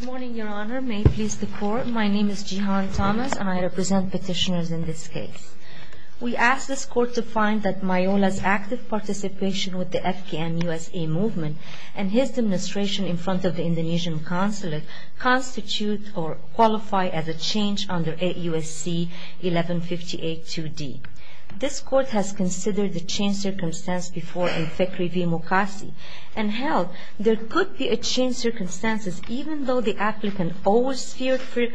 Good morning, Your Honor. May it please the Court. My name is Jihan Thomas, and I represent petitioners in this case. We ask this Court to find that Mailoa's active participation with the Afghan USA movement and his administration in front of the Indonesian consulate constitute or qualify as a change under AUSC 1158-2D. This Court has considered the change circumstance before in Fekri v. Mokassi, and held there could be a change circumstances even though the applicant owes fear for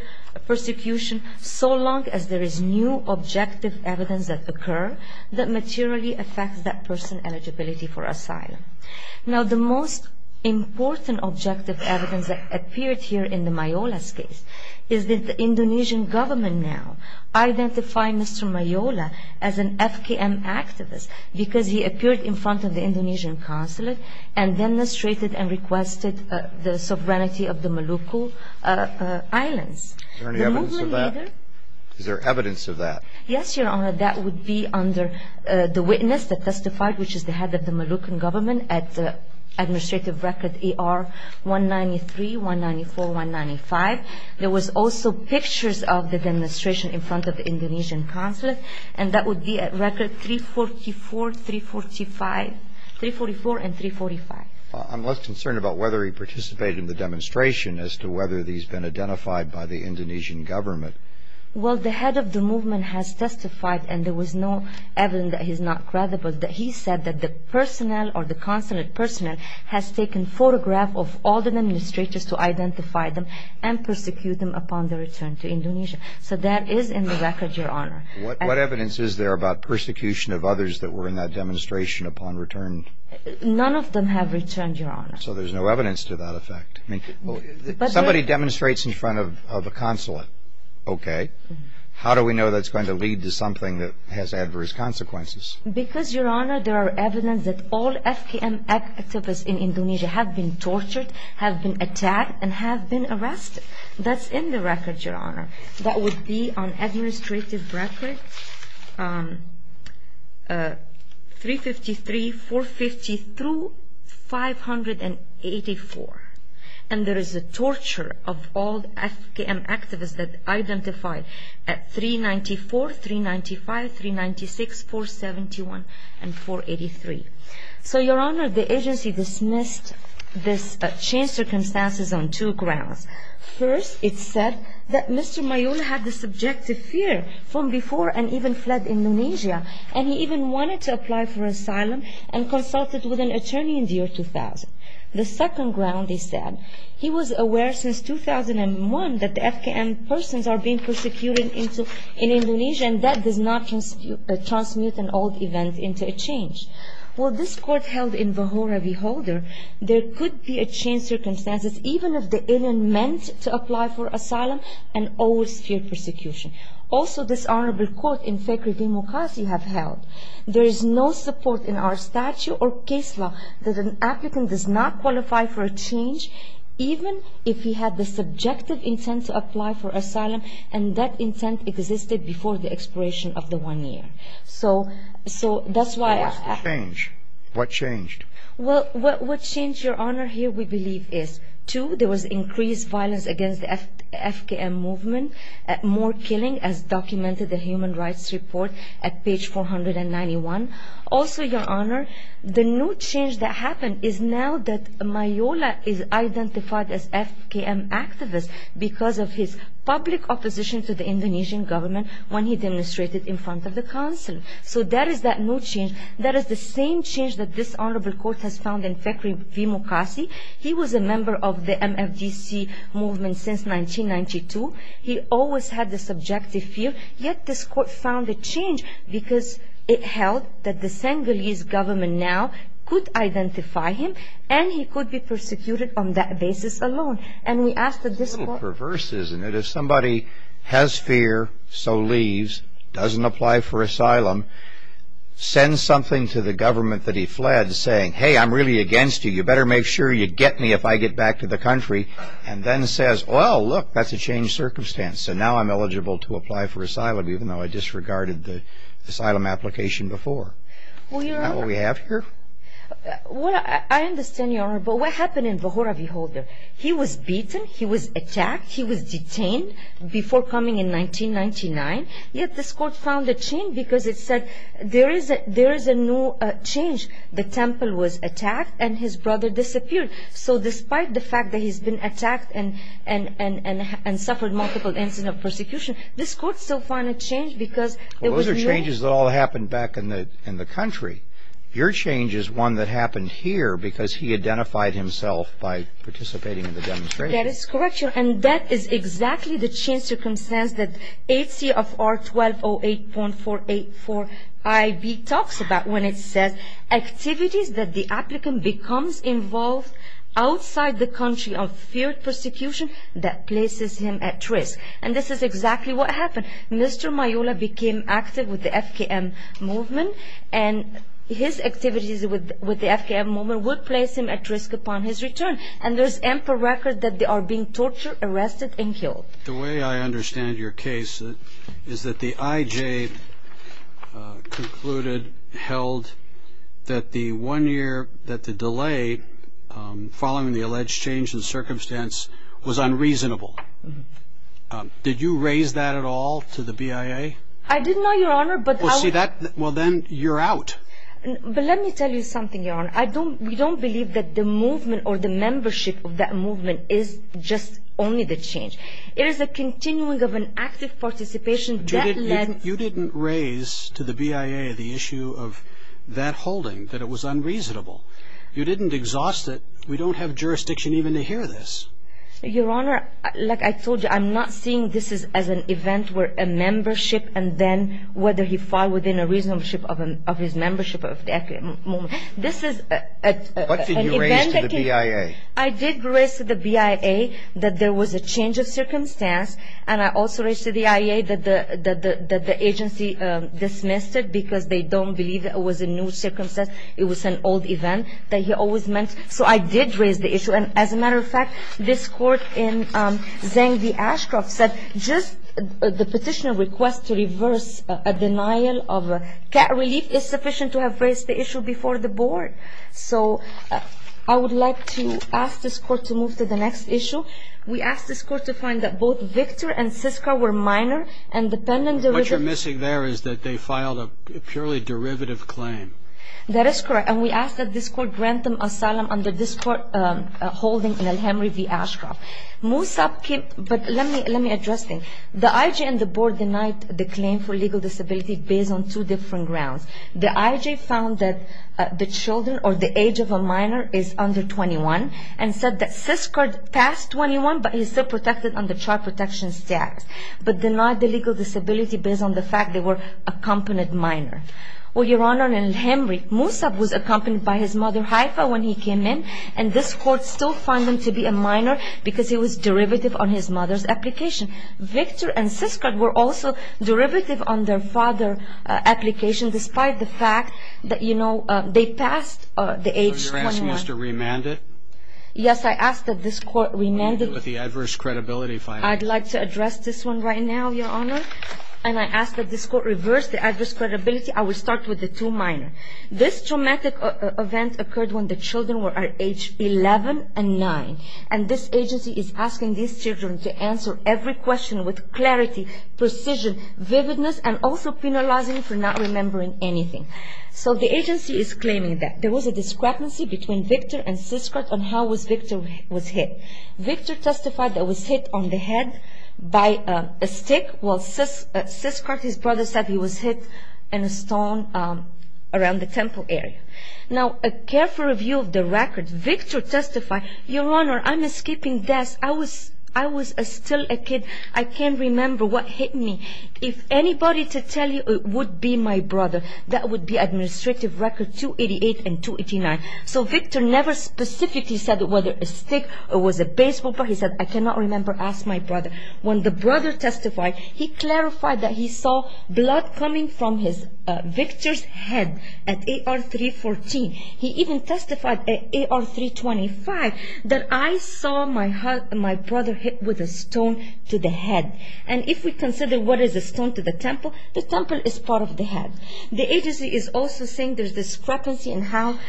persecution so long as there is new objective evidence that occur that materially affects that person's eligibility for asylum. Now the most important objective evidence that appeared here in the Mailoa's case is that the Indonesian government now identify Mr. Mailoa as an FKM activist because he appeared in front of the Indonesian consulate and demonstrated and requested the sovereignty of the Maluku Islands. Is there evidence of that? Yes, Your Honor. That would be under the witness that testified, which is the head of the Maluku government at administrative record ER 193, 194, 195. There was also pictures of the demonstration in front of the Indonesian consulate, and that would be at record 344, 345, 344 and 345. I'm less concerned about whether he participated in the demonstration as to whether he's been identified by the Indonesian government. Well, the head of the movement has testified, and there was no evidence that he's not credible, that he said that the personnel or the consulate personnel has taken photograph of all the administrators to identify them and persecute them upon their return to Indonesia. So that is in the record, Your Honor. What evidence is there about persecution of others that were in that demonstration upon return? None of them have returned, Your Honor. So there's no evidence to that effect. Somebody demonstrates in front of a consulate, okay. How do we know that's going to lead to something that has adverse consequences? Because, Your Honor, there are evidence that all FKM activists in Indonesia have been tortured, have been attacked and have been arrested. That's in the record, Your Honor. That would be on administrative record 353, 450 through 584. And there is a torture of all FKM activists that identified at 394, 395, 396, 471 and 483. So, Your Honor, the agency dismissed these circumstances on two grounds. First, it said that Mr. Mayol had the subjective fear from before and even fled Indonesia. And he even wanted to apply for asylum and consulted with an attorney in the year 2000. The second ground, they said, he was aware since 2001 that the FKM persons are being persecuted in Indonesia and that does not transmute an old event into a change. Well, this court held in Vahora v. Holder, there could be a change of circumstances even if the alien meant to apply for asylum and always feared persecution. Also, this honorable court in Fekri v. Mukasi have held, there is no support in our statute or case law that an applicant does not qualify for a change, even if he had the subjective intent to apply for asylum and that intent existed before the expiration of the one year. So, that's why... What changed? Well, what changed, Your Honor, here we believe is two, there was increased violence against the FKM movement, more killing as documented in the Human Rights Report at page 491. Also, Your Honor, the new change that happened is now that Mayola is identified as FKM activist because of his public opposition to the Indonesian government when he demonstrated in front of the council. So, that is that new change. That is the same change that this honorable court has found in Fekri v. Mukasi. He was a member of the MFDC movement since 1992. He always had the subjective fear. Yet, this court found a change because it held that the Senegalese government now could identify him and he could be persecuted on that basis alone. And we asked that this court... It's a little perverse, isn't it? If somebody has fear, so leaves, doesn't apply for asylum, sends something to the government that he fled saying, hey, I'm really against you, you better make sure you get me if I get back to the country, and then says, well, look, that's a changed circumstance, so now I'm eligible to apply for asylum even though I disregarded the asylum application before. Isn't that what we have here? Well, I understand, Your Honor, but what happened in Vahora v. Holder? He was beaten, he was attacked, he was detained before coming in 1999. Yet, this court found a change because it said there is a new change. The temple was attacked and his brother disappeared. So despite the fact that he's been attacked and suffered multiple incidents of persecution, this court still found a change because... Well, those are changes that all happened back in the country. Your change is one that happened here because he identified himself by participating in the demonstration. That is correct, Your Honor. And that is exactly the changed circumstance that H.C.R. 1208.484ib talks about when it says activities that the applicant becomes involved outside the country of feared persecution that places him at risk. And this is exactly what happened. Mr. Mayola became active with the FKM movement, and his activities with the FKM movement would place him at risk upon his return. And there's ample record that they are being tortured, arrested, and killed. The way I understand your case is that the IJ concluded, held, that the one year that the delay following the alleged change in circumstance was unreasonable. Did you raise that at all to the BIA? I didn't know, Your Honor, but... Well, then you're out. But let me tell you something, Your Honor. We don't believe that the movement or the membership of that movement is just only the change. It is a continuing of an active participation that led... You didn't raise to the BIA the issue of that holding, that it was unreasonable. You didn't exhaust it. We don't have jurisdiction even to hear this. Your Honor, like I told you, I'm not seeing this as an event where a membership and then whether he fall within a reasonableship of his membership of the FKM movement. This is an event that can... What did you raise to the BIA? I did raise to the BIA that there was a change of circumstance, and I also raised to the IA that the agency dismissed it because they don't believe that it was a new circumstance. It was an old event that he always meant. So I did raise the issue. And as a matter of fact, this Court in Zang v. Ashcroft said, just the petitioner request to reverse a denial of a cat relief is sufficient to have raised the issue before the Board. So I would like to ask this Court to move to the next issue. We ask this Court to find that both Victor and Siska were minor and dependent... What you're missing there is that they filed a purely derivative claim. That is correct. And we ask that this Court grant them asylum under this Court holding in El-Hemry v. Ashcroft. Moosab came... But let me address this. The IJ and the Board denied the claim for legal disability based on two different grounds. The IJ found that the children or the age of a minor is under 21 and said that Siska passed 21, but he's still protected under child protection status, but denied the legal disability based on the fact they were a competent minor. Well, Your Honor, in El-Hemry, Moosab was accompanied by his mother Haifa when he came in, and this Court still found him to be a minor because he was derivative on his mother's application. Victor and Siska were also derivative on their father's application, despite the fact that, you know, they passed the age 21. So you're asking us to remand it? Yes, I ask that this Court remand it. With the adverse credibility finding. I'd like to address this one right now, Your Honor. And I ask that this Court reverse the adverse credibility. I will start with the two minors. This traumatic event occurred when the children were at age 11 and 9, and this agency is asking these children to answer every question with clarity, precision, vividness, and also penalizing for not remembering anything. So the agency is claiming that there was a discrepancy between Victor and Siska on how Victor was hit. By a stick? Well, Siska, his brother, said he was hit in a stone around the temple area. Now, a careful review of the record, Victor testified, Your Honor, I'm escaping death. I was still a kid. I can't remember what hit me. If anybody to tell you it would be my brother, that would be administrative record 288 and 289. So Victor never specifically said whether a stick or was a baseball bat. He said, I cannot remember. Ask my brother. When the brother testified, he clarified that he saw blood coming from Victor's head at AR 314. He even testified at AR 325 that I saw my brother hit with a stone to the head. And if we consider what is a stone to the temple, the temple is part of the head. The agency is also saying there's discrepancy in how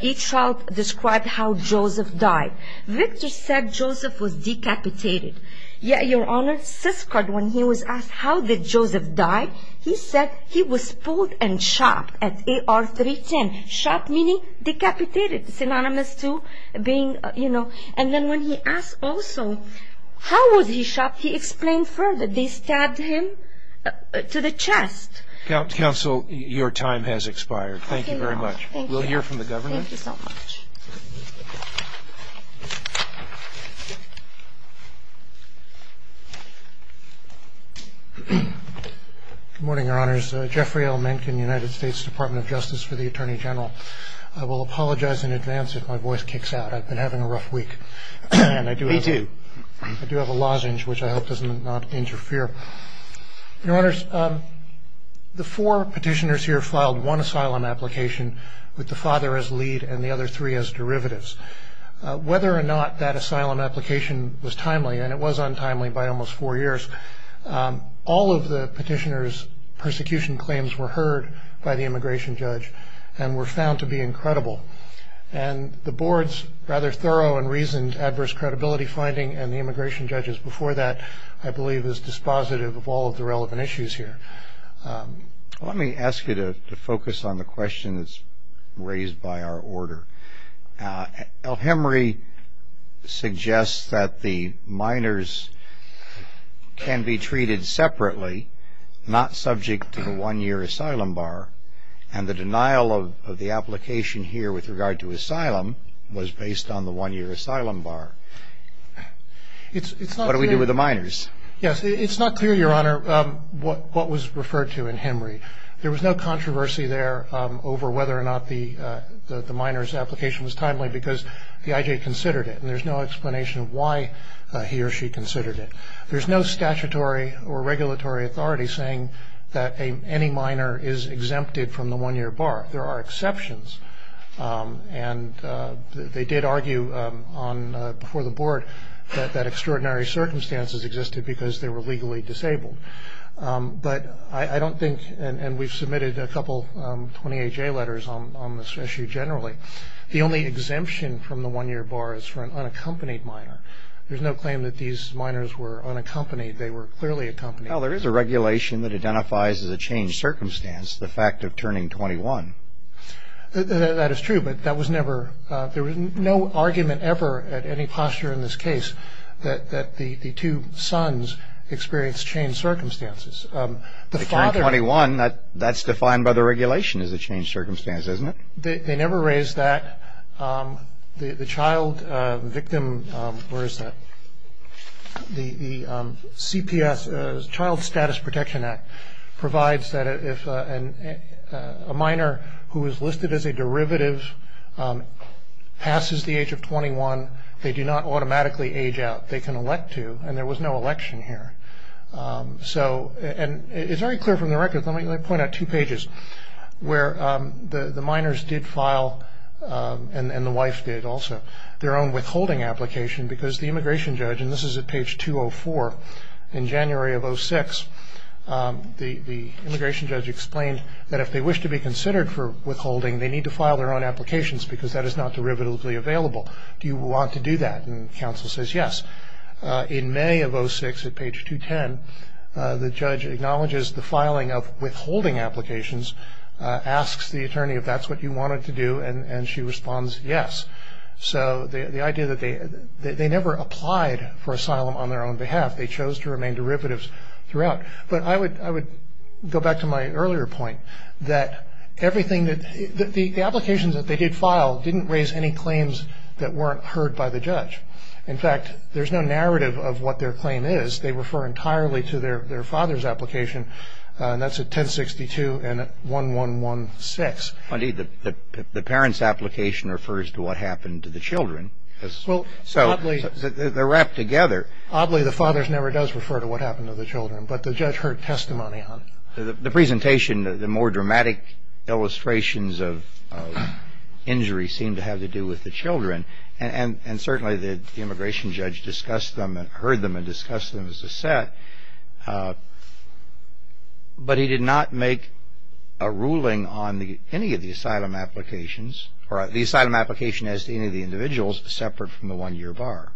each child described how Joseph died. Victor said Joseph was decapitated. Yet, Your Honor, Siska, when he was asked how did Joseph die, he said he was pulled and shoved at AR 310. Shoved meaning decapitated, synonymous to being, you know. And then when he asked also how was he shoved, he explained further. They stabbed him to the chest. Counsel, your time has expired. Thank you very much. We'll hear from the government. Thank you so much. Good morning, Your Honors. Jeffrey L. Mencken, United States Department of Justice for the Attorney General. I will apologize in advance if my voice kicks out. I've been having a rough week. Me too. I do have a lozenge, which I hope does not interfere. Your Honors, the four petitioners here filed one asylum application with the father as lead and the other three as derivatives. Whether or not that asylum application was timely, and it was untimely by almost four years, all of the petitioners' persecution claims were heard by the immigration judge and were found to be incredible. And the board's rather thorough and reasoned adverse credibility finding and the immigration judge's before that, I believe, is dispositive of all of the relevant issues here. Let me ask you to focus on the question that's raised by our order. El Hemry suggests that the minors can be treated separately, not subject to the one-year asylum bar, and the denial of the application here with regard to asylum was based on the one-year asylum bar. Yes. It's not clear, Your Honor, what was referred to in Hemry. There was no controversy there over whether or not the minor's application was timely because the IJ considered it, and there's no explanation of why he or she considered it. There's no statutory or regulatory authority saying that any minor is exempted from the one-year bar. There are exceptions, and they did argue before the board that extraordinary circumstances existed because they were legally disabled. But I don't think, and we've submitted a couple 28J letters on this issue generally, the only exemption from the one-year bar is for an unaccompanied minor. There's no claim that these minors were unaccompanied. They were clearly accompanied. Well, there is a regulation that identifies as a changed circumstance the fact of turning 21. That is true, but that was never – there was no argument ever at any posture in this case that the two sons experienced changed circumstances. The father – They turned 21. That's defined by the regulation as a changed circumstance, isn't it? They never raised that. The child victim – where is that? The Child Status Protection Act provides that if a minor who is listed as a derivative passes the age of 21, they do not automatically age out. They can elect to, and there was no election here. And it's very clear from the record, let me point out two pages, where the minors did file, and the wife did also, their own withholding application because the immigration judge, and this is at page 204, in January of 2006, the immigration judge explained that if they wish to be considered for withholding, they need to file their own applications because that is not derivatively available. Do you want to do that? And counsel says yes. In May of 2006, at page 210, the judge acknowledges the filing of withholding applications, asks the attorney if that's what you wanted to do, and she responds yes. So the idea that they – they never applied for asylum on their own behalf. They chose to remain derivatives throughout. But I would go back to my earlier point that everything that – the applications that they did file didn't raise any claims that weren't heard by the judge. In fact, there's no narrative of what their claim is. They refer entirely to their father's application, and that's at 1062 and 1116. The parent's application refers to what happened to the children. So they're wrapped together. Oddly, the father never does refer to what happened to the children, but the judge heard testimony on it. The presentation, the more dramatic illustrations of injury seem to have to do with the children, and certainly the immigration judge discussed them and heard them and discussed them as a set. But he did not make a ruling on any of the asylum applications or the asylum application as to any of the individuals separate from the one-year bar.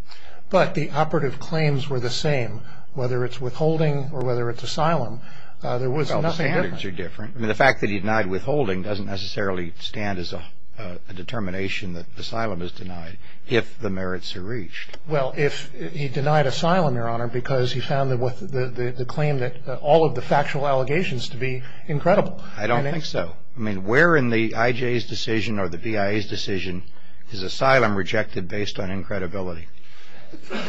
But the operative claims were the same, whether it's withholding or whether it's asylum. There was nothing different. Well, the standards are different. I mean, the fact that he denied withholding doesn't necessarily stand as a determination that asylum is denied, if the merits are reached. Well, if he denied asylum, Your Honor, because he found the claim that all of the factual allegations to be incredible. I don't think so. I mean, where in the IJ's decision or the VIA's decision is asylum rejected based on incredibility?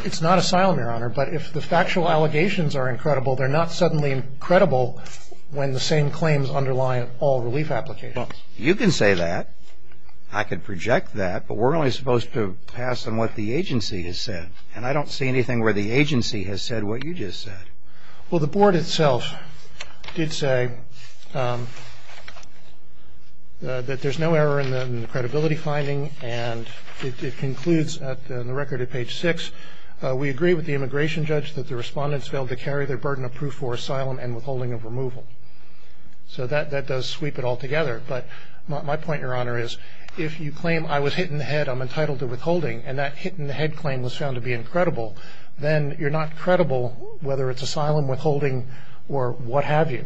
It's not asylum, Your Honor, but if the factual allegations are incredible, they're not suddenly incredible when the same claims underlie all relief applications. Well, you can say that. I can project that. But we're only supposed to pass on what the agency has said, and I don't see anything where the agency has said what you just said. Well, the board itself did say that there's no error in the credibility finding, and it concludes in the record at page 6, we agree with the immigration judge that the respondents failed to carry their burden of proof for asylum and withholding of removal. So that does sweep it all together. But my point, Your Honor, is if you claim I was hit in the head, I'm entitled to withholding, and that hit in the head claim was found to be incredible, then you're not credible whether it's asylum, withholding, or what have you.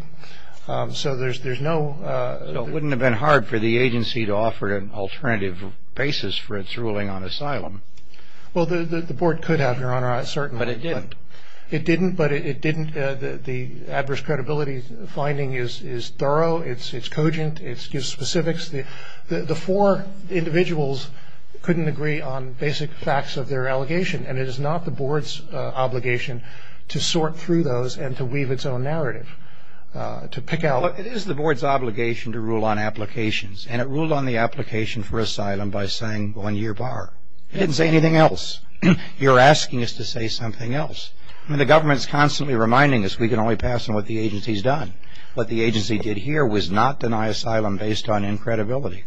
So there's no ---- So it wouldn't have been hard for the agency to offer an alternative basis for its ruling on asylum. Well, the board could have, Your Honor, certainly. But it didn't. It didn't, but it didn't. The adverse credibility finding is thorough. It's cogent. It gives specifics. The four individuals couldn't agree on basic facts of their allegation, and it is not the board's obligation to sort through those and to weave its own narrative, to pick out ---- Well, it is the board's obligation to rule on applications, and it ruled on the application for asylum by saying one-year bar. It didn't say anything else. You're asking us to say something else. I mean, the government's constantly reminding us we can only pass on what the agency's done. What the agency did here was not deny asylum based on incredibility.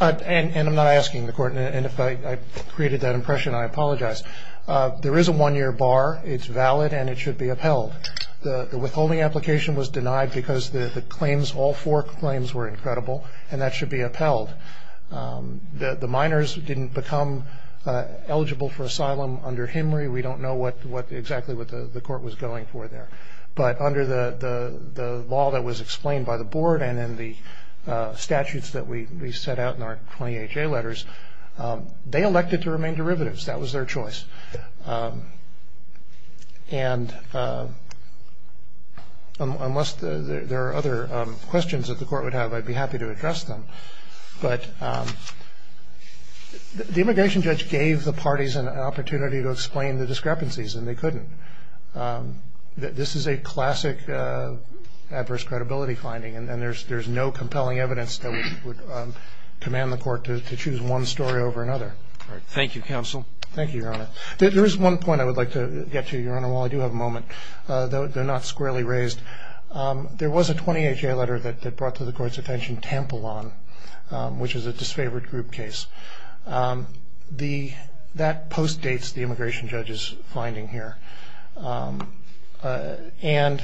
And I'm not asking the Court, and if I created that impression, I apologize. There is a one-year bar. It's valid, and it should be upheld. The withholding application was denied because the claims, all four claims, were incredible. And that should be upheld. The minors didn't become eligible for asylum under Henry. We don't know exactly what the Court was going for there. But under the law that was explained by the board and in the statutes that we set out in our 20HA letters, they elected to remain derivatives. That was their choice. And unless there are other questions that the Court would have, I'd be happy to address them. But the immigration judge gave the parties an opportunity to explain the discrepancies, and they couldn't. This is a classic adverse credibility finding, and there's no compelling evidence that would command the Court to choose one story over another. All right. Thank you, Counsel. Thank you, Your Honor. There is one point I would like to get to, Your Honor, while I do have a moment. They're not squarely raised. There was a 20HA letter that brought to the Court's attention Tampalon, which is a disfavored group case. That postdates the immigration judge's finding here. And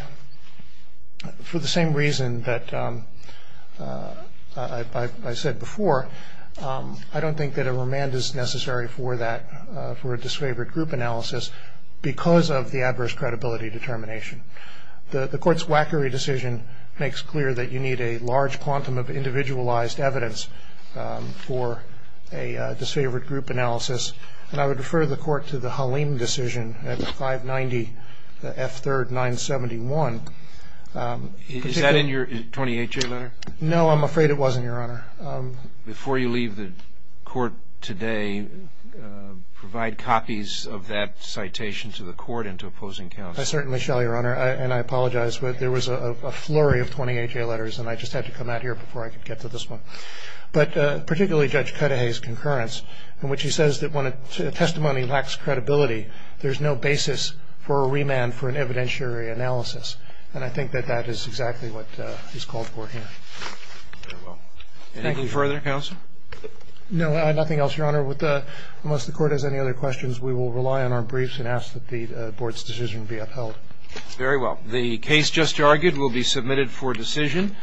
for the same reason that I said before, I don't think that a remand is necessary for that, for a disfavored group analysis, because of the adverse credibility determination. The Court's Wackery decision makes clear that you need a large quantum of individualized evidence for a disfavored group analysis. And I would refer the Court to the Halim decision at 590 F3rd 971. Is that in your 20HA letter? No, I'm afraid it wasn't, Your Honor. Before you leave the Court today, provide copies of that citation to the Court and to opposing counsel. I certainly shall, Your Honor. And I apologize, but there was a flurry of 20HA letters, and I just had to come out here before I could get to this one. But particularly Judge Cudahy's concurrence, in which he says that when a testimony lacks credibility, there's no basis for a remand for an evidentiary analysis. And I think that that is exactly what is called for here. Very well. Anything further, counsel? No, nothing else, Your Honor. Unless the Court has any other questions, we will rely on our briefs and ask that the Board's decision be upheld. Very well. The case just argued will be submitted for decision.